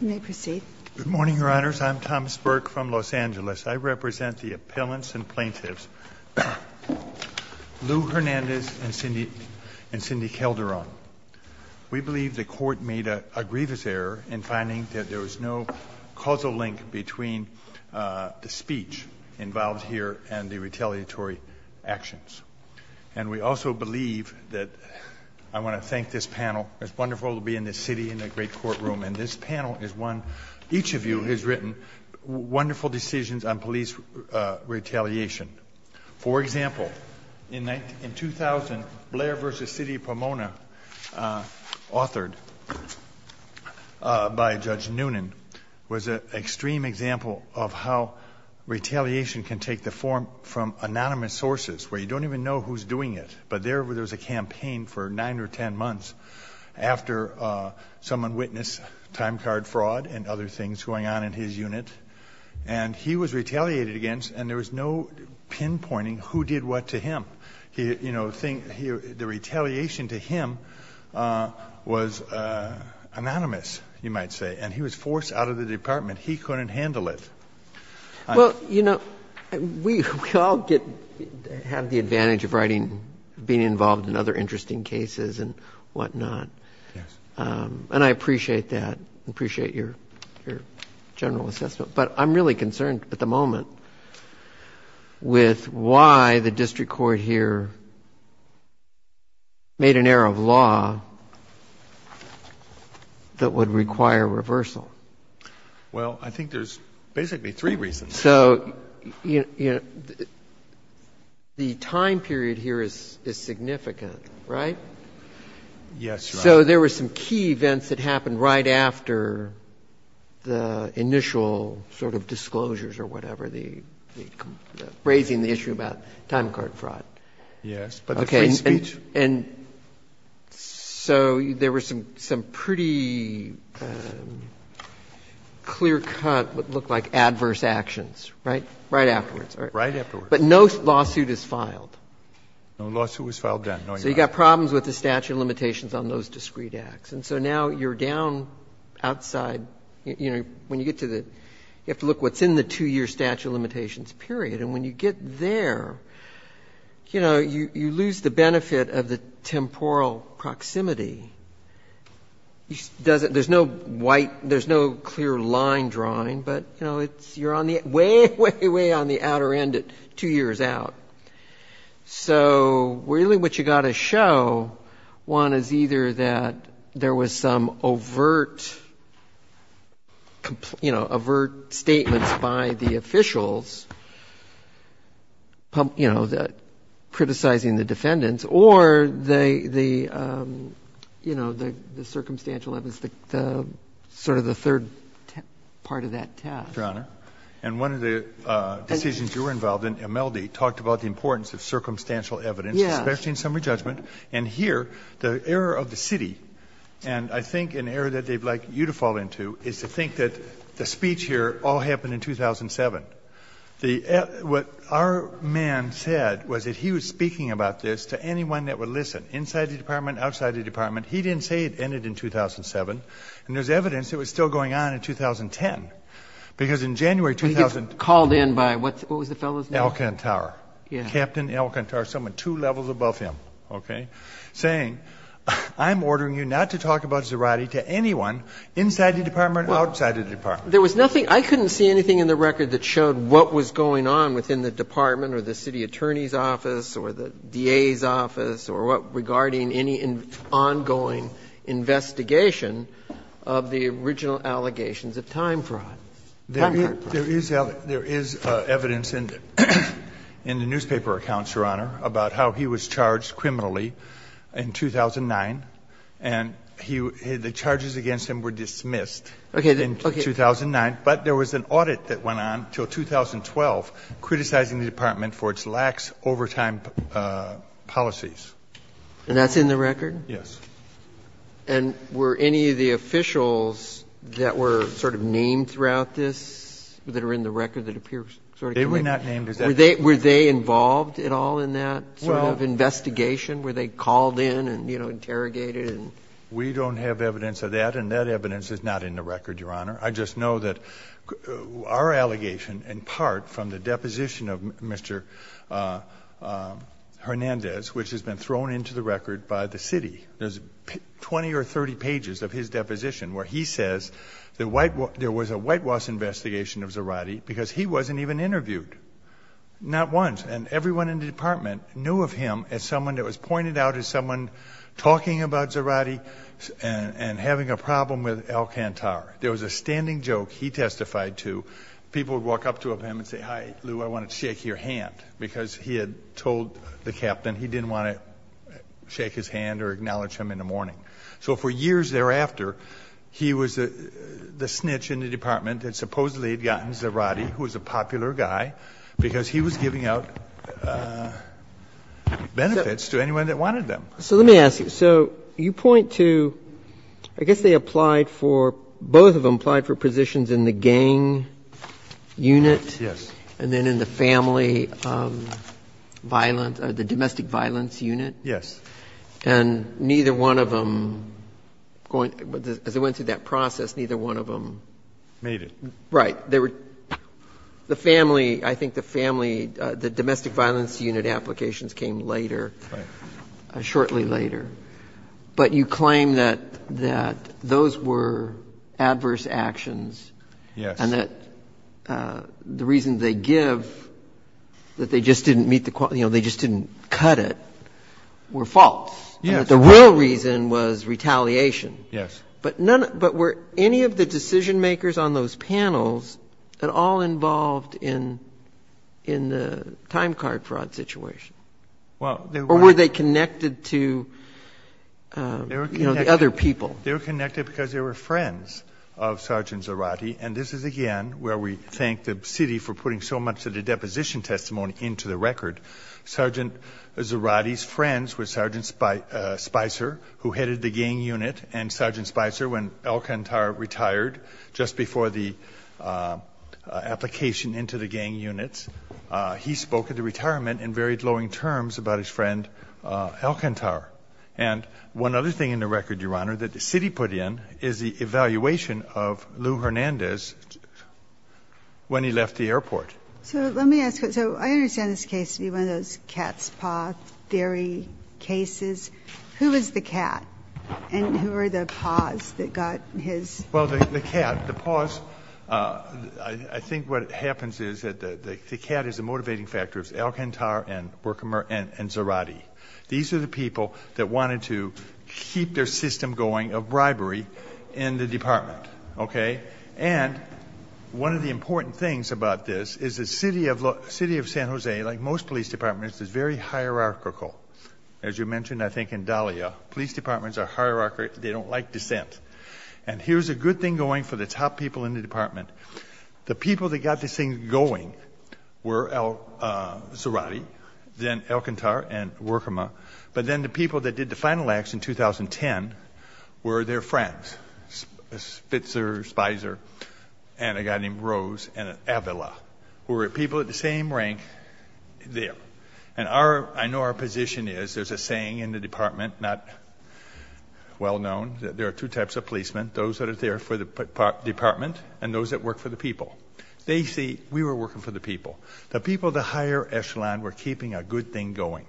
You may proceed. Good morning, your honors. I'm Thomas Burke from Los Angeles. I represent the appellants and plaintiffs Lou Hernandez and Cindy and Cindy Calderon. We believe the court made a grievous error in finding that there was no causal link between the speech involved here and the retaliatory actions. And we also believe that I want to thank this panel. It's wonderful to be in this city in a great courtroom and this panel is one each of you has written wonderful decisions on police retaliation. For example, in 2000 Blair v. City of Pomona, authored by Judge Noonan, was an extreme example of how retaliation can take the form from anonymous sources where you don't even know who's doing it. But there was a campaign for nine or ten months after someone witnessed time card fraud and other things going on in his unit and he was retaliated against and there was no pinpointing who did what to him. He, you know, the retaliation to him was anonymous, you might say, and he was forced out of the department. He couldn't handle it. Well, you know, we all get have the advantage of writing being involved in other interesting cases and whatnot. And I appreciate that, appreciate your general assessment. But I'm really concerned at the moment with why the district court here made an error of law that would require reversal. Well, I think there's basically three reasons. So, you know, the time period here is significant, right? Yes. So there were some key events that happened right after the initial sort of disclosures or whatever, the raising the issue about time card fraud. Yes, but the free speech. And so there were some pretty clear-cut, what looked like adverse actions, right? Right afterwards. Right afterwards. But no lawsuit is filed. No lawsuit was filed then. So you got problems with the statute of limitations on those discreet acts. And so now you're down outside, you know, when you get to the you have to look what's in the two-year statute of limitations period. And when you get there, you know, you lose the benefit of the temporal proximity. There's no white, there's no clear line drawing, but, you know, you're on the way, way, way on the outer end at two years out. So really what you got to show, one, is either that there was some overt, you know, overt statements by the officials, you know, criticizing the defendants, or the, you know, the circumstantial evidence, sort of the third part of that test. Your Honor, and one of the decisions you were involved in, Imeldi, talked about the importance of circumstantial evidence, especially in summary judgment. And here, the error of the city, and I think an error that they'd like you to fall into, is to think that the speech here all happened in 2007. What our man said was that he was speaking about this to anyone that would listen, inside the department, outside the department. He didn't say it ended in 2007. And there's evidence it was still going on in 2010, because in January 2000 We get called in by what was the fellow's name? Elkintar. Captain Elkintar, someone two levels above him, okay, saying, I'm ordering you not to talk about Zerati to anyone inside the department, outside the department. There was nothing, I couldn't see anything in the record that showed what was going on within the department, or the city attorney's office, or the DA's office, or what regarding any ongoing investigation of the original allegations of time fraud. There is evidence in the newspaper accounts, Your Honor, about how he was charged But there was an audit that went on until 2012, criticizing the department for its lax overtime policies. And that's in the record? Yes. And were any of the officials that were sort of named throughout this, that are in the record, that appear sort of connected? They were not named. Were they involved at all in that sort of investigation? Were they called in and, you know, interrogated and? We don't have evidence of that, and that evidence is not in the record, Your Honor. I just know that our allegation, in part from the deposition of Mr. Hernandez, which has been thrown into the record by the city, there's 20 or 30 pages of his deposition where he says there was a whitewash investigation of Zerati because he wasn't even interviewed, not once. And everyone in the department knew of him as someone that was pointed out as someone talking about Zerati and having a problem with Alcantara. There was a standing joke he testified to. People would walk up to him and say, hi, Lou, I want to shake your hand, because he had told the captain he didn't want to shake his hand or acknowledge him in the morning. So for years thereafter, he was the snitch in the department that supposedly had gotten Zerati, who was a popular guy, because he was giving out benefits to anyone that wanted them. So let me ask you, so you point to, I guess they applied for, both of them applied for positions in the gang unit. Yes. And then in the family violence, the domestic violence unit. Yes. And neither one of them, as they went through that process, neither one of them. Made it. Right. They were, the family, I think the family, the domestic violence unit applications came later, shortly later. But you claim that those were adverse actions. Yes. And that the reason they give that they just didn't meet the, you know, they just didn't cut it, were false. Yes. The real reason was retaliation. Yes. But none, but were any of the decision makers on those panels at all involved in the time card fraud situation? Well, or were they connected to, you know, the other people? They were connected because they were friends of Sergeant Zarate. And this is again, where we thank the city for putting so much of the deposition testimony into the record. Sergeant Zarate's friends were Sergeant Spicer, who headed the gang unit and Sergeant Spicer, when Alcantara retired, just before the application into the gang units, he spoke at the retirement in very glowing terms about his friend, Alcantara. And one other thing in the record, Your Honor, that the city put in is the evaluation of Lou Hernandez when he left the airport. So let me ask you, so I understand this case to be one of those cat's paw theory cases, who is the cat and who are the paws that got his. Well, the cat, the paws. I think what happens is that the cat is a motivating factor. It's Alcantara and Zarate. These are the people that wanted to keep their system going of bribery in the department, okay? And one of the important things about this is the city of San Jose, like most police departments, is very hierarchical. As you mentioned, I think in Dahlia, police departments are hierarchical. They don't like dissent. And here's a good thing going for the top people in the department. The people that got this thing going were Zarate, then Alcantara and Workama. But then the people that did the final acts in 2010 were their friends, Spitzer, Spizer, and a guy named Rose and Avila, who were people at the same rank there. And I know our position is there's a saying in the department, not well-known, that there are two types of policemen, those that are there for the department and those that work for the people. They see, we were working for the people. The people of the higher echelon were keeping a good thing going.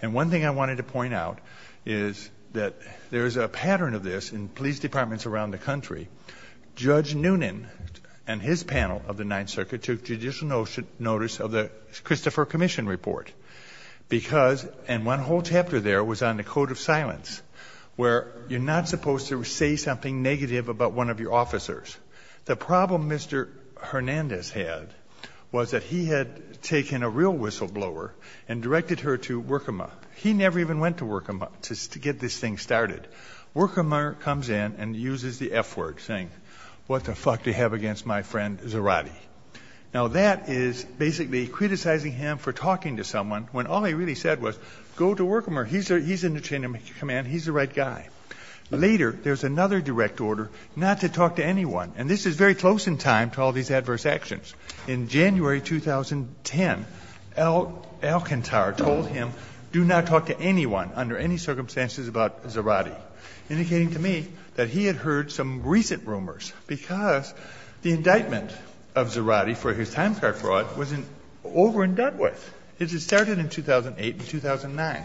And one thing I wanted to point out is that there's a pattern of this in police departments around the country. Judge Noonan and his panel of the Ninth Circuit took judicial notice of the Christopher Commission Report because, and one whole chapter there was on the code of silence, where you're not supposed to say something negative about one of your officers. The problem Mr. Hernandez had was that he had taken a real whistleblower and directed her to Workama. He never even went to Workama to get this thing started. Workama comes in and uses the F word saying, what the fuck do you have against my friend Zarate? Now that is basically criticizing him for talking to someone when all he really said was, go to Workama, he's in the chain of command, he's the right guy. Later, there's another direct order not to talk to anyone. And this is very close in time to all these adverse actions. In January, 2010, Alcantar told him, do not talk to anyone under any circumstances about Zarate, indicating to me that he had heard some recent rumors because the indictment of Zarate for his time card fraud was over and done with. It started in 2008 and 2009.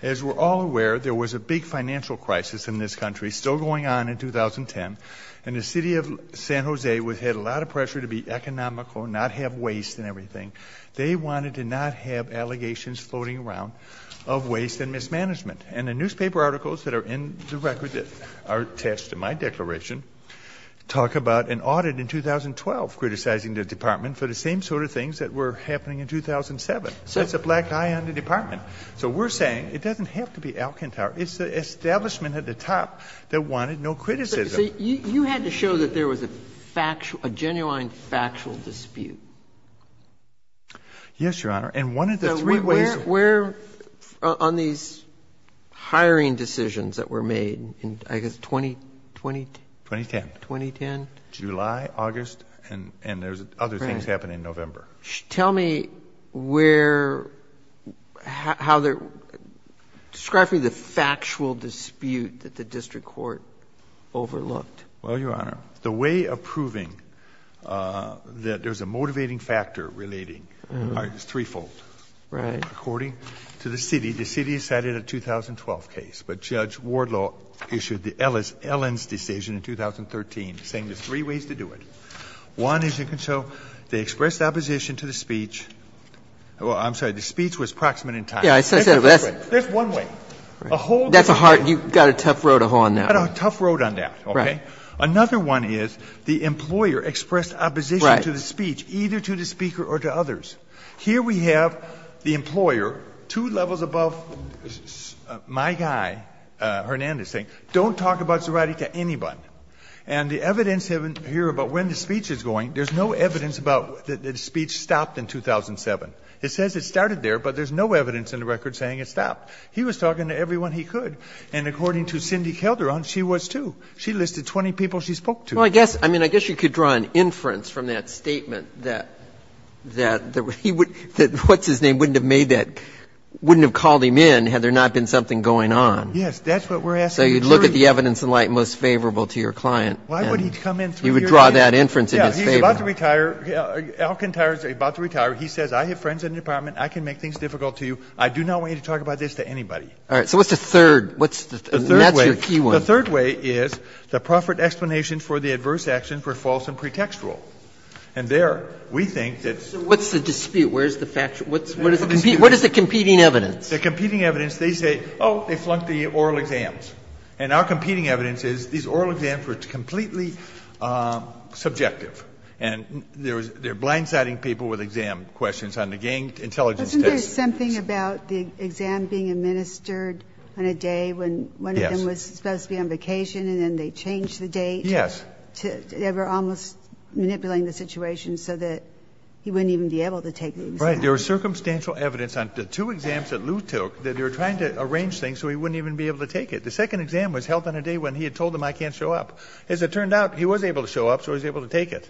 As we're all aware, there was a big financial crisis in this country, still going on in 2010, and the city of San Jose had a lot of pressure to be economical, not have waste and everything. They wanted to not have allegations floating around of waste and mismanagement. And the newspaper articles that are in the record that are attached to my declaration, talk about an audit in 2012, criticizing the department for the same sort of things that were happening in 2007. So it's a black eye on the department. So we're saying it doesn't have to be Alcantar. It's the establishment at the top that wanted no criticism. So you had to show that there was a factual, a genuine factual dispute. Yes, Your Honor. And one of the three ways... Where on these hiring decisions that were made in, I guess, 20, 20... 2010. 2010. July, August, and, and there's other things happening in November. Tell me where, how they're describing the factual dispute that the district court overlooked. Well, Your Honor, the way of proving that there's a motivating factor relating is threefold, according to the city. The city decided a 2012 case, but Judge Wardlaw issued the Ellen's decision in 2013, saying there's three ways to do it. One is you can show they expressed opposition to the speech. Well, I'm sorry. The speech was proximate in time. That's one way. A whole... That's a hard, you got a tough road on that. I got a tough road on that. Okay. Another one is the employer expressed opposition to the speech, either to the speaker or to others. Here we have the employer, two levels above my guy, Hernandez saying, don't talk about Zerati to anyone. And the evidence here about when the speech is going, there's no evidence about that the speech stopped in 2007. It says it started there, but there's no evidence in the record saying it stopped. He was talking to everyone he could. And according to Cindy Calderon, she was too. She listed 20 people she spoke to. Well, I guess, I mean, I guess you could draw an inference from that statement that, that he would, that what's-his-name wouldn't have made that, wouldn't have called him in had there not been something going on. Yes. That's what we're asking. So you'd look at the evidence in light most favorable to your client. Why would he come in through your name? You would draw that inference in his favor. Yeah. He's about to retire. Alcantara is about to retire. He says, I have friends in the department. I can make things difficult to you. I do not want you to talk about this to anybody. All right. So what's the third? What's the third? And that's your key one. The third way is the proffered explanation for the adverse action for false and pretextual. And there, we think that's- So what's the dispute? Where's the factual? What's the dispute? What is the competing evidence? The competing evidence, they say, oh, they flunked the oral exams. And our competing evidence is these oral exams were completely subjective. And they're blindsiding people with exam questions on the gang intelligence test. Isn't there something about the exam being administered on a day when one of them was supposed to be on vacation, and then they changed the date? Yes. They were almost manipulating the situation so that he wouldn't even be able to take the exam. Right. There was circumstantial evidence on the two exams that Lou took that they were trying to arrange things so he wouldn't even be able to take it. The second exam was held on a day when he had told them I can't show up. As it turned out, he was able to show up, so he was able to take it.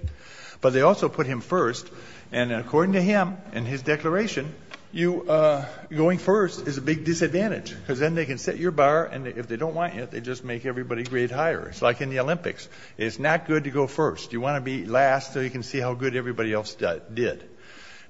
But they also put him first. And according to him, in his declaration, going first is a big disadvantage because then they can set your bar. And if they don't want you, they just make everybody grade higher. It's like in the Olympics. It's not good to go first. You want to be last so you can see how good everybody else did.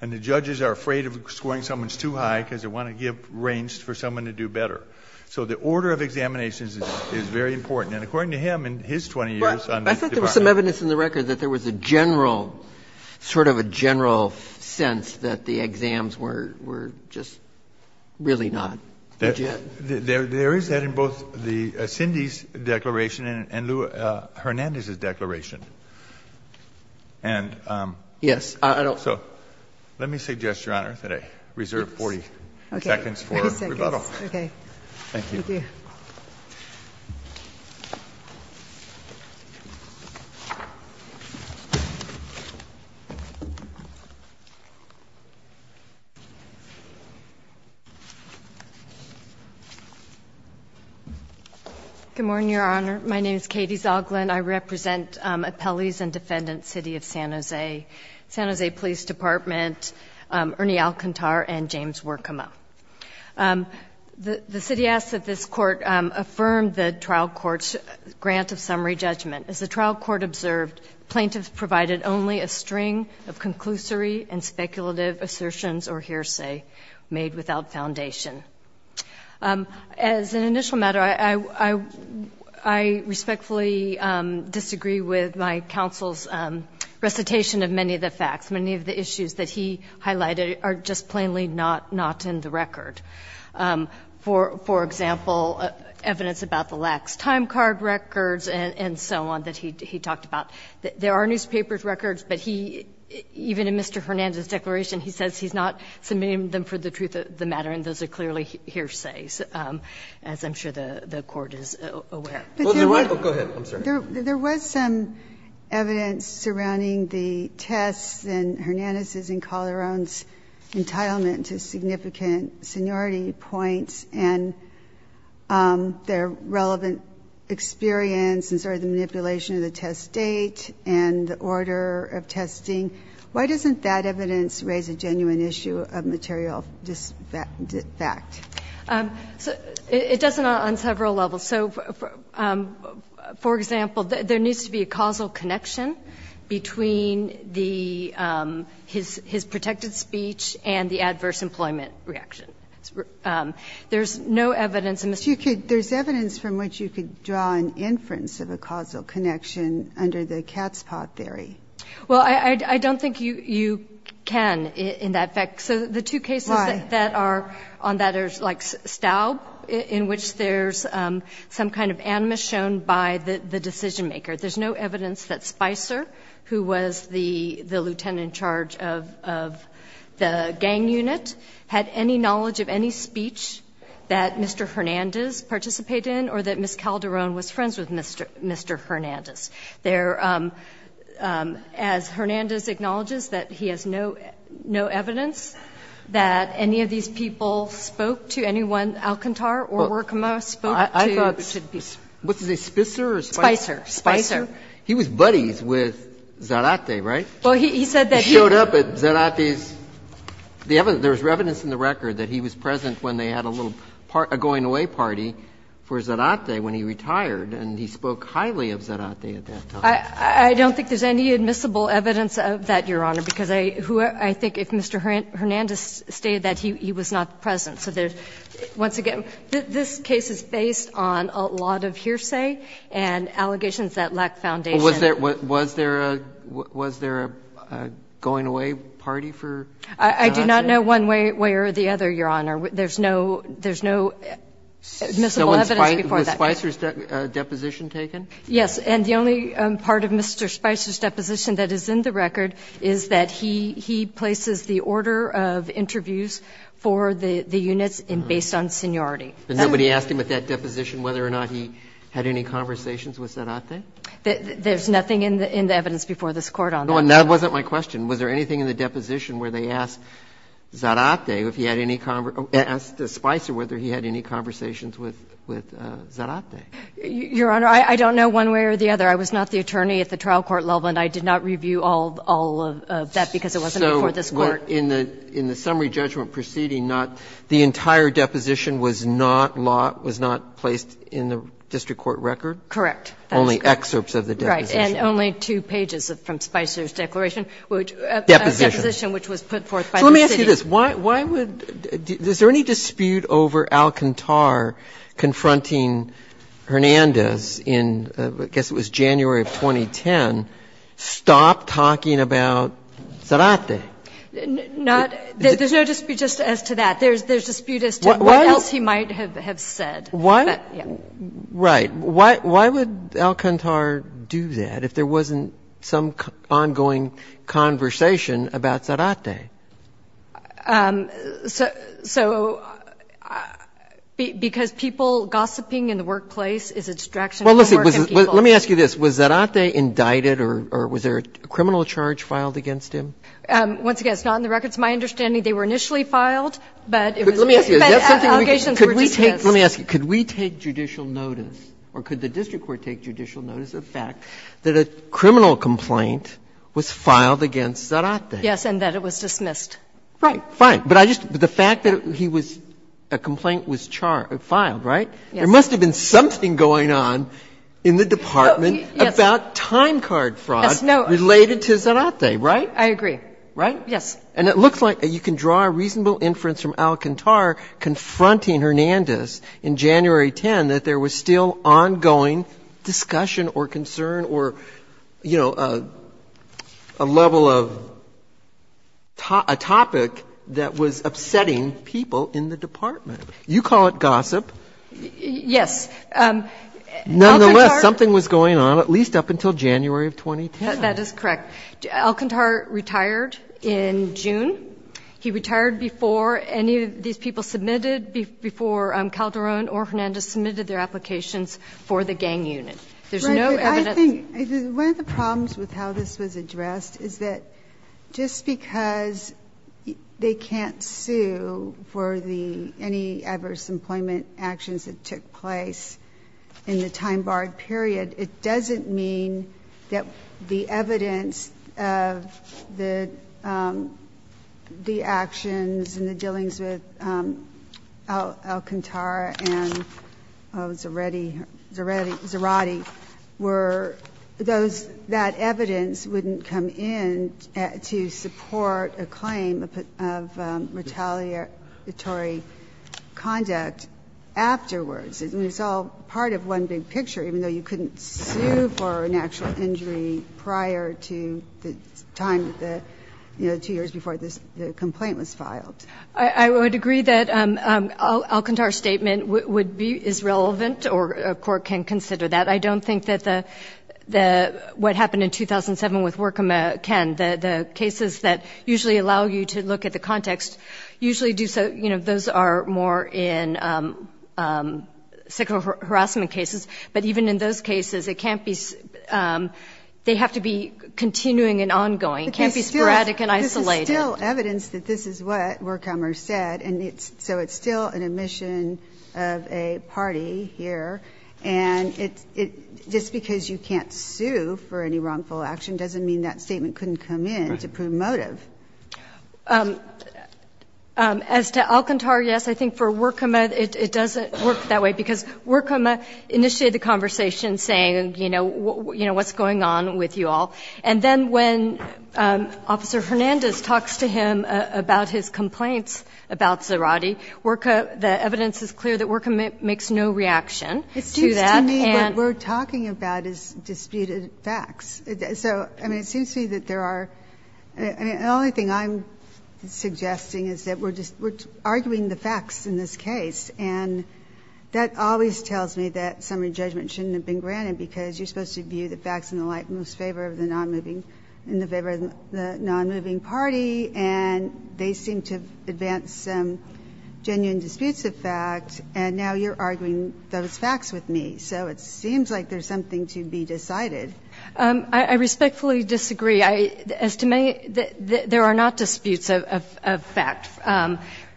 And the judges are afraid of scoring someone's too high because they want to give range for someone to do better. So the order of examinations is very important. And according to him, in his 20 years on this department. I thought there was some evidence in the record that there was a general, sort of a general sense that the exams were just really not legit. There is that in both Cindy's declaration and Lou Hernandez's declaration. And so let me suggest, Your Honor, that I reserve 40 seconds for rebuttal. Okay. Thank you. Thank you. Good morning, Your Honor. My name is Katie Zoglin. I represent appellees and defendants, City of San Jose, San Jose Police Department, Ernie Alcantara, and James Workamo. The city asks that this court affirm the trial court's grant of summary judgment. As the trial court observed, plaintiffs provided only a string of conclusory and speculative assertions or hearsay made without foundation. As an initial matter, I respectfully disagree with my counsel's recitation of many of the facts. Many of the issues that he highlighted are just plainly not in the record. For example, evidence about the lax time card records and so on that he talked about. There are newspapers records, but he, even in Mr. Hernandez's declaration, he says he's not submitting them for the truth of the matter, and those are clearly hearsays, as I'm sure the court is aware. But there was some evidence surrounding the tests and their relevant experience and sort of the manipulation of the test date and the order of testing. Why doesn't that evidence raise a genuine issue of material fact? It does on several levels. So, for example, there needs to be a causal connection between his protected speech and the adverse employment reaction. There's no evidence in this case. There's evidence from which you could draw an inference of a causal connection under the cat's paw theory. Well, I don't think you can in that fact. So the two cases that are on that are like Staub, in which there's some kind of animus shown by the decision maker. There's no evidence that Spicer, who was the lieutenant in charge of the gang unit, had any knowledge of any speech that Mr. Hernandez participated in or that Ms. Calderon was friends with Mr. Hernandez. There, as Hernandez acknowledges, that he has no evidence that any of these people spoke to anyone, Alcantar or Workman, spoke to Spicer. He was buddies with Zarate, right? He showed up at Zarate's – there's evidence in the record that he was present when they had a little going-away party for Zarate when he retired, and he spoke highly of Zarate at that time. I don't think there's any admissible evidence of that, Your Honor, because I think if Mr. Hernandez stated that, he was not present. So once again, this case is based on a lot of hearsay and allegations that lack foundation. Roberts, was there a going-away party for Zarate? I do not know one way or the other, Your Honor. There's no admissible evidence before that. Was Spicer's deposition taken? Yes. And the only part of Mr. Spicer's deposition that is in the record is that he places the order of interviews for the units based on seniority. But nobody asked him at that deposition whether or not he had any conversations with Zarate? There's nothing in the evidence before this Court on that. No, and that wasn't my question. Was there anything in the deposition where they asked Zarate if he had any – asked Spicer whether he had any conversations with Zarate? Your Honor, I don't know one way or the other. I was not the attorney at the trial court level, and I did not review all of that because it wasn't before this Court. So in the summary judgment proceeding, not – the entire deposition was not placed in the district court record? Correct. Only excerpts of the deposition. Right. And only two pages from Spicer's declaration, which – Deposition. Deposition, which was put forth by the city. So let me ask you this. Why would – is there any dispute over Alcantar confronting Hernandez in, I guess it was January of 2010, stop talking about Zarate? Not – there's no dispute just as to that. There's dispute as to what else he might have said. Why – right. Why would Alcantar do that if there wasn't some ongoing conversation about Zarate? So – because people gossiping in the workplace is a distraction from working people. Well, listen. Let me ask you this. Was Zarate indicted or was there a criminal charge filed against him? Once again, it's not in the records. My understanding, they were initially filed, but it was – That's something we can – could we take – let me ask you. Could the district court take judicial notice of the fact that a criminal complaint was filed against Zarate? Yes, and that it was dismissed. Right. Fine. But I just – the fact that he was – a complaint was filed, right? Yes. There must have been something going on in the department about time card fraud related to Zarate, right? I agree. Right? Yes. And it looks like you can draw a reasonable inference from Alcantar confronting Hernandez in January 10 that there was still ongoing discussion or concern or, you know, a level of – a topic that was upsetting people in the department. You call it gossip. Yes. Alcantar – Nonetheless, something was going on at least up until January of 2010. That is correct. Alcantar retired in June. He retired before any of these people submitted – before Calderon or Hernandez submitted their applications for the gang unit. There's no evidence. I think – one of the problems with how this was addressed is that just because they can't sue for the – any adverse employment actions that took place in the case, the actions and the dealings with Alcantar and Zarate were those – that evidence wouldn't come in to support a claim of retaliatory conduct afterwards. I mean, it's all part of one big picture, even though you couldn't sue for an actual injury prior to the time that – you know, two years before the complaint was filed. I would agree that Alcantar's statement would be – is relevant or a court can consider that. I don't think that the – what happened in 2007 with Workoma can – the cases that usually allow you to look at the context usually do so – you know, those are more in sexual harassment cases. But even in those cases, it can't be – they have to be continuing and ongoing. It can't be sporadic and isolated. But this is still evidence that this is what Workoma said, and it's – so it's still an admission of a party here. And it's – just because you can't sue for any wrongful action doesn't mean that statement couldn't come in to promotive. As to Alcantar, yes, I think for Workoma, it doesn't work that way, because Workoma initiated the conversation saying, you know, what's going on with you all. And then when Officer Hernandez talks to him about his complaints about Zerati, Workoma – the evidence is clear that Workoma makes no reaction to that. It seems to me what we're talking about is disputed facts. So, I mean, it seems to me that there are – I mean, the only thing I'm suggesting is that we're just – we're arguing the facts in this case. And that always tells me that summary judgment shouldn't have been granted, because you're supposed to view the facts and the like in most favor of the nonmoving – in the favor of the nonmoving party, and they seem to advance some genuine disputes of fact, and now you're arguing those facts with me. So it seems like there's something to be decided. I respectfully disagree. As to me, there are not disputes of fact.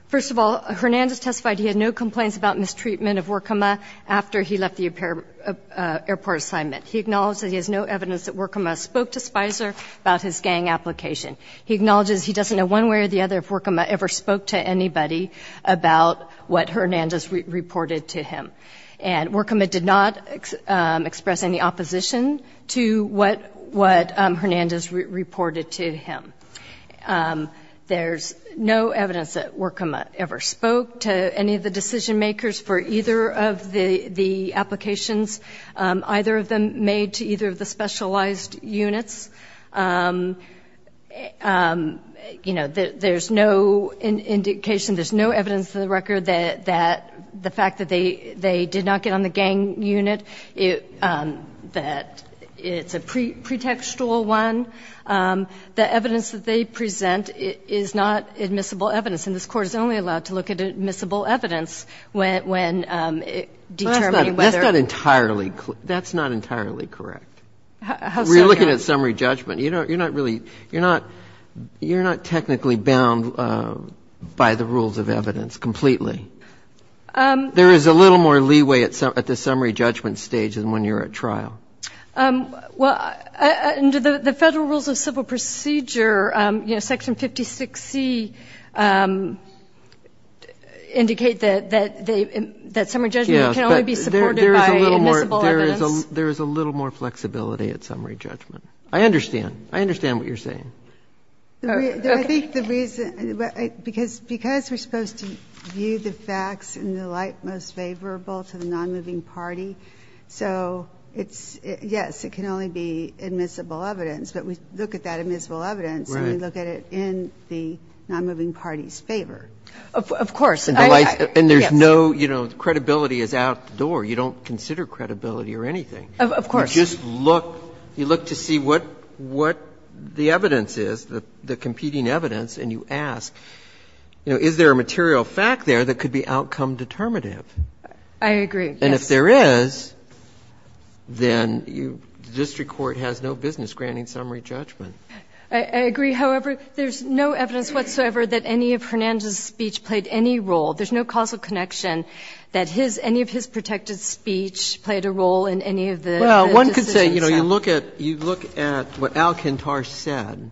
First of all, Hernandez testified he had no complaints about mistreatment of Workoma after he left the airport assignment. He acknowledged that he has no evidence that Workoma spoke to Spicer about his gang application. He acknowledges he doesn't know one way or the other if Workoma ever spoke to anybody about what Hernandez reported to him. And Workoma did not express any opposition to what Hernandez reported to him. There's no evidence that Workoma ever spoke to any of the decision-makers for either of the applications, either of them made to either of the specialized units. You know, there's no indication – there's no evidence in the record that the fact that they did not get on the gang unit, that it's a pretextual one. The evidence that they present is not admissible evidence, and this Court is only allowed to look at admissible evidence when determining whether – That's not entirely – that's not entirely correct. How so, Your Honor? We're looking at summary judgment. You're not really – you're not technically bound by the rules of evidence completely. There is a little more leeway at the summary judgment stage than when you're at trial. Well, under the Federal Rules of Civil Procedure, you know, Section 56C indicate that summary judgment can only be supported by admissible evidence. Yes, but there is a little more flexibility at summary judgment. I understand. I understand what you're saying. I think the reason – because we're supposed to view the facts in the light most favorable to the nonmoving party, so it's – yes, it can only be admissible evidence, but we look at that admissible evidence and we look at it in the nonmoving party's favor. Of course. And there's no, you know, credibility is out the door. You don't consider credibility or anything. Of course. You just look – you look to see what the evidence is, the competing evidence, and you ask, you know, is there a material fact there that could be outcome-determinative? I agree, yes. And if there is, then the district court has no business granting summary judgment. I agree. However, there's no evidence whatsoever that any of Hernandez's speech played any role. There's no causal connection that his – any of his protected speech played a role in any of the decisions. Well, one could say, you know, you look at – you look at what Alcantar said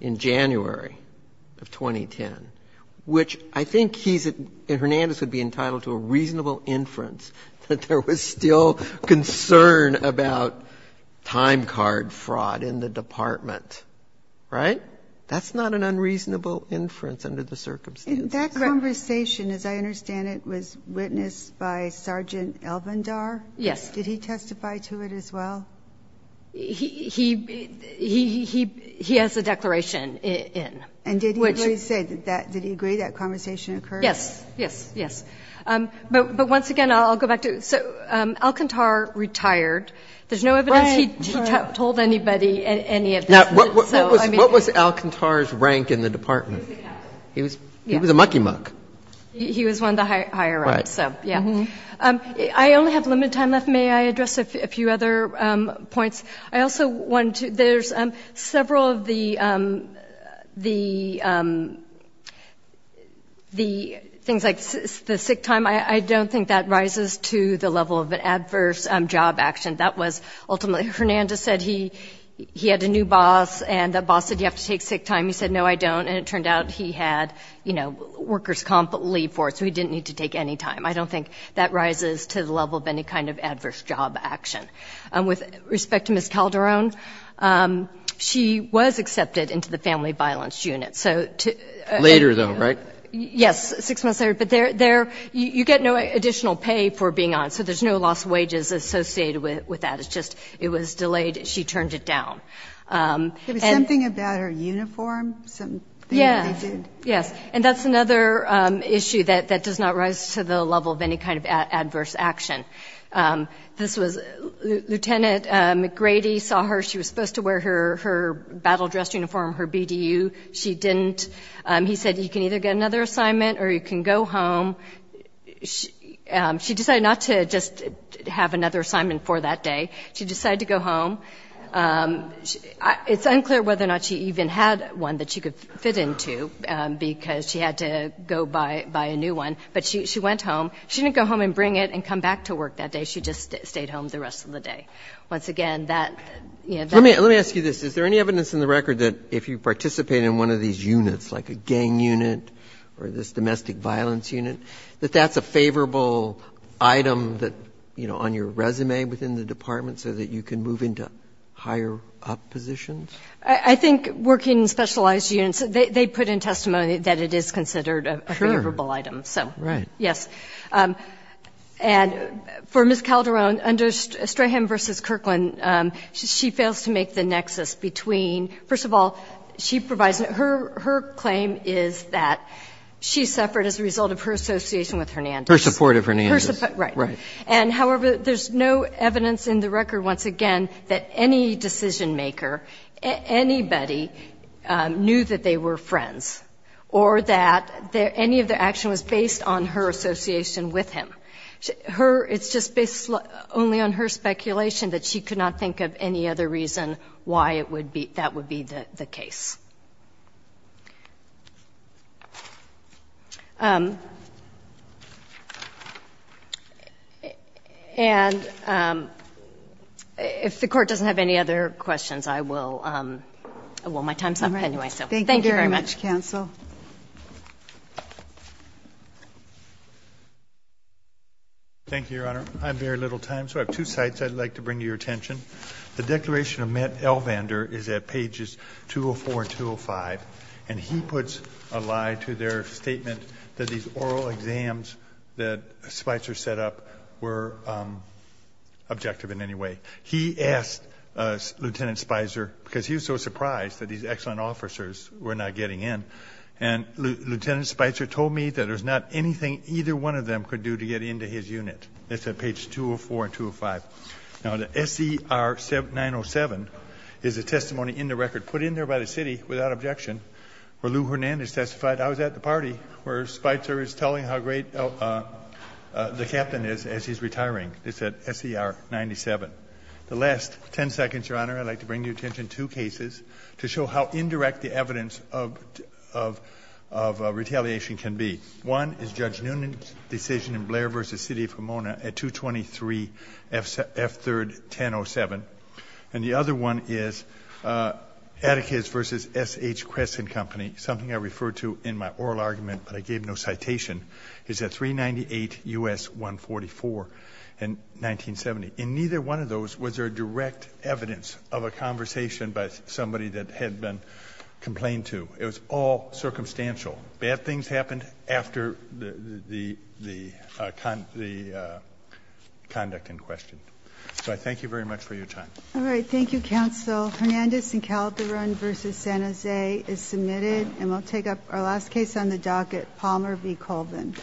in January of 2010, which I think he's – Hernandez would be entitled to a reasonable inference that there was still concern about time card fraud in the department. Right? That's not an unreasonable inference under the circumstances. That conversation, as I understand it, was witnessed by Sergeant Elvendar? Yes. Did he testify to it as well? He – he has a declaration in. And did he agree to say that – did he agree that conversation occurred? Yes. Yes. Yes. But once again, I'll go back to – so Alcantar retired. There's no evidence he told anybody any of this. Now, what was Alcantar's rank in the department? He was a captain. He was a mucky-muck. He was one of the higher-ups. Right. So, yeah. I only have limited time left. May I address a few other points? I also want to – there's several of the – the things like the sick time. I don't think that rises to the level of an adverse job action. That was ultimately – Hernandez said he had a new boss, and the boss said, you have to take sick time. He said, no, I don't. And it turned out he had, you know, workers' comp leave for it. So he didn't need to take any time. I don't think that rises to the level of any kind of adverse job action. With respect to Ms. Calderon, she was accepted into the family violence unit. So – Later, though, right? Yes. Six months later. But there – you get no additional pay for being on. So there's no lost wages associated with that. It's just it was delayed. She turned it down. There was something about her uniform, something that they did. Yes. And that's another issue that does not rise to the level of any kind of adverse action. This was – Lieutenant McGrady saw her. She was supposed to wear her battle dress uniform, her BDU. She didn't. He said, you can either get another assignment or you can go home. She decided not to just have another assignment for that day. She decided to go home. It's unclear whether or not she even had one that she could fit into because she had to go buy a new one. But she went home. She didn't go home and bring it and come back to work that day. She just stayed home the rest of the day. Once again, that – Let me ask you this. Is there any evidence in the record that if you participate in one of these units, like a gang unit or this domestic violence unit, that that's a favorable item that, you know, on your resume within the department so that you can move into higher up positions? I think working specialized units, they put in testimony that it is considered a favorable item. Sure. Right. Yes. And for Ms. Calderon, under Strahan v. Kirkland, she fails to make the nexus between – first of all, she provides – her claim is that she suffered as a result of her association with Hernandez. Her support of Hernandez. Right. And, however, there's no evidence in the record, once again, that any decision maker, anybody knew that they were friends or that any of the action was based on her association with him. Her – it's just based only on her speculation that she could not think of any other reason why it would be – that would be the case. And if the Court doesn't have any other questions, I will – well, my time's up anyway. All right. So, thank you very much. Thank you very much, Counsel. Thank you, Your Honor. I have very little time, so I have two sites I'd like to bring to your attention. The Declaration of Met-Elvander is at pages 204 and 210. And he puts a lie to their statement that these oral exams that Spicer set up were objective in any way. He asked Lieutenant Spicer, because he was so surprised that these excellent officers were not getting in, and Lieutenant Spicer told me that there's not anything either one of them could do to get into his unit. It's at pages 204 and 205. Now, the S.E.R. 907 is a testimony in the record put in there by the City, without objection, where Lou Hernandez testified, I was at the party, where Spicer is telling how great the captain is as he's retiring. It's at S.E.R. 97. The last ten seconds, Your Honor, I'd like to bring your attention to two cases to show how indirect the evidence of retaliation can be. One is Judge Noonan's decision in Blair v. City of Pomona at 223 F. 3rd, 1007. And the other one is Atticus v. S.H. Crescent Company, something I referred to in my oral argument, but I gave no citation, is at 398 U.S. 144 in 1970. In neither one of those was there direct evidence of a conversation by somebody that had been complained to. It was all circumstantial. Bad things happened after the conduct in question. So I thank you very much for your time. All right, thank you, Counsel. Hernandez and Calderon v. San Jose is submitted, and we'll take up our last case on the docket, Palmer v. Colvin.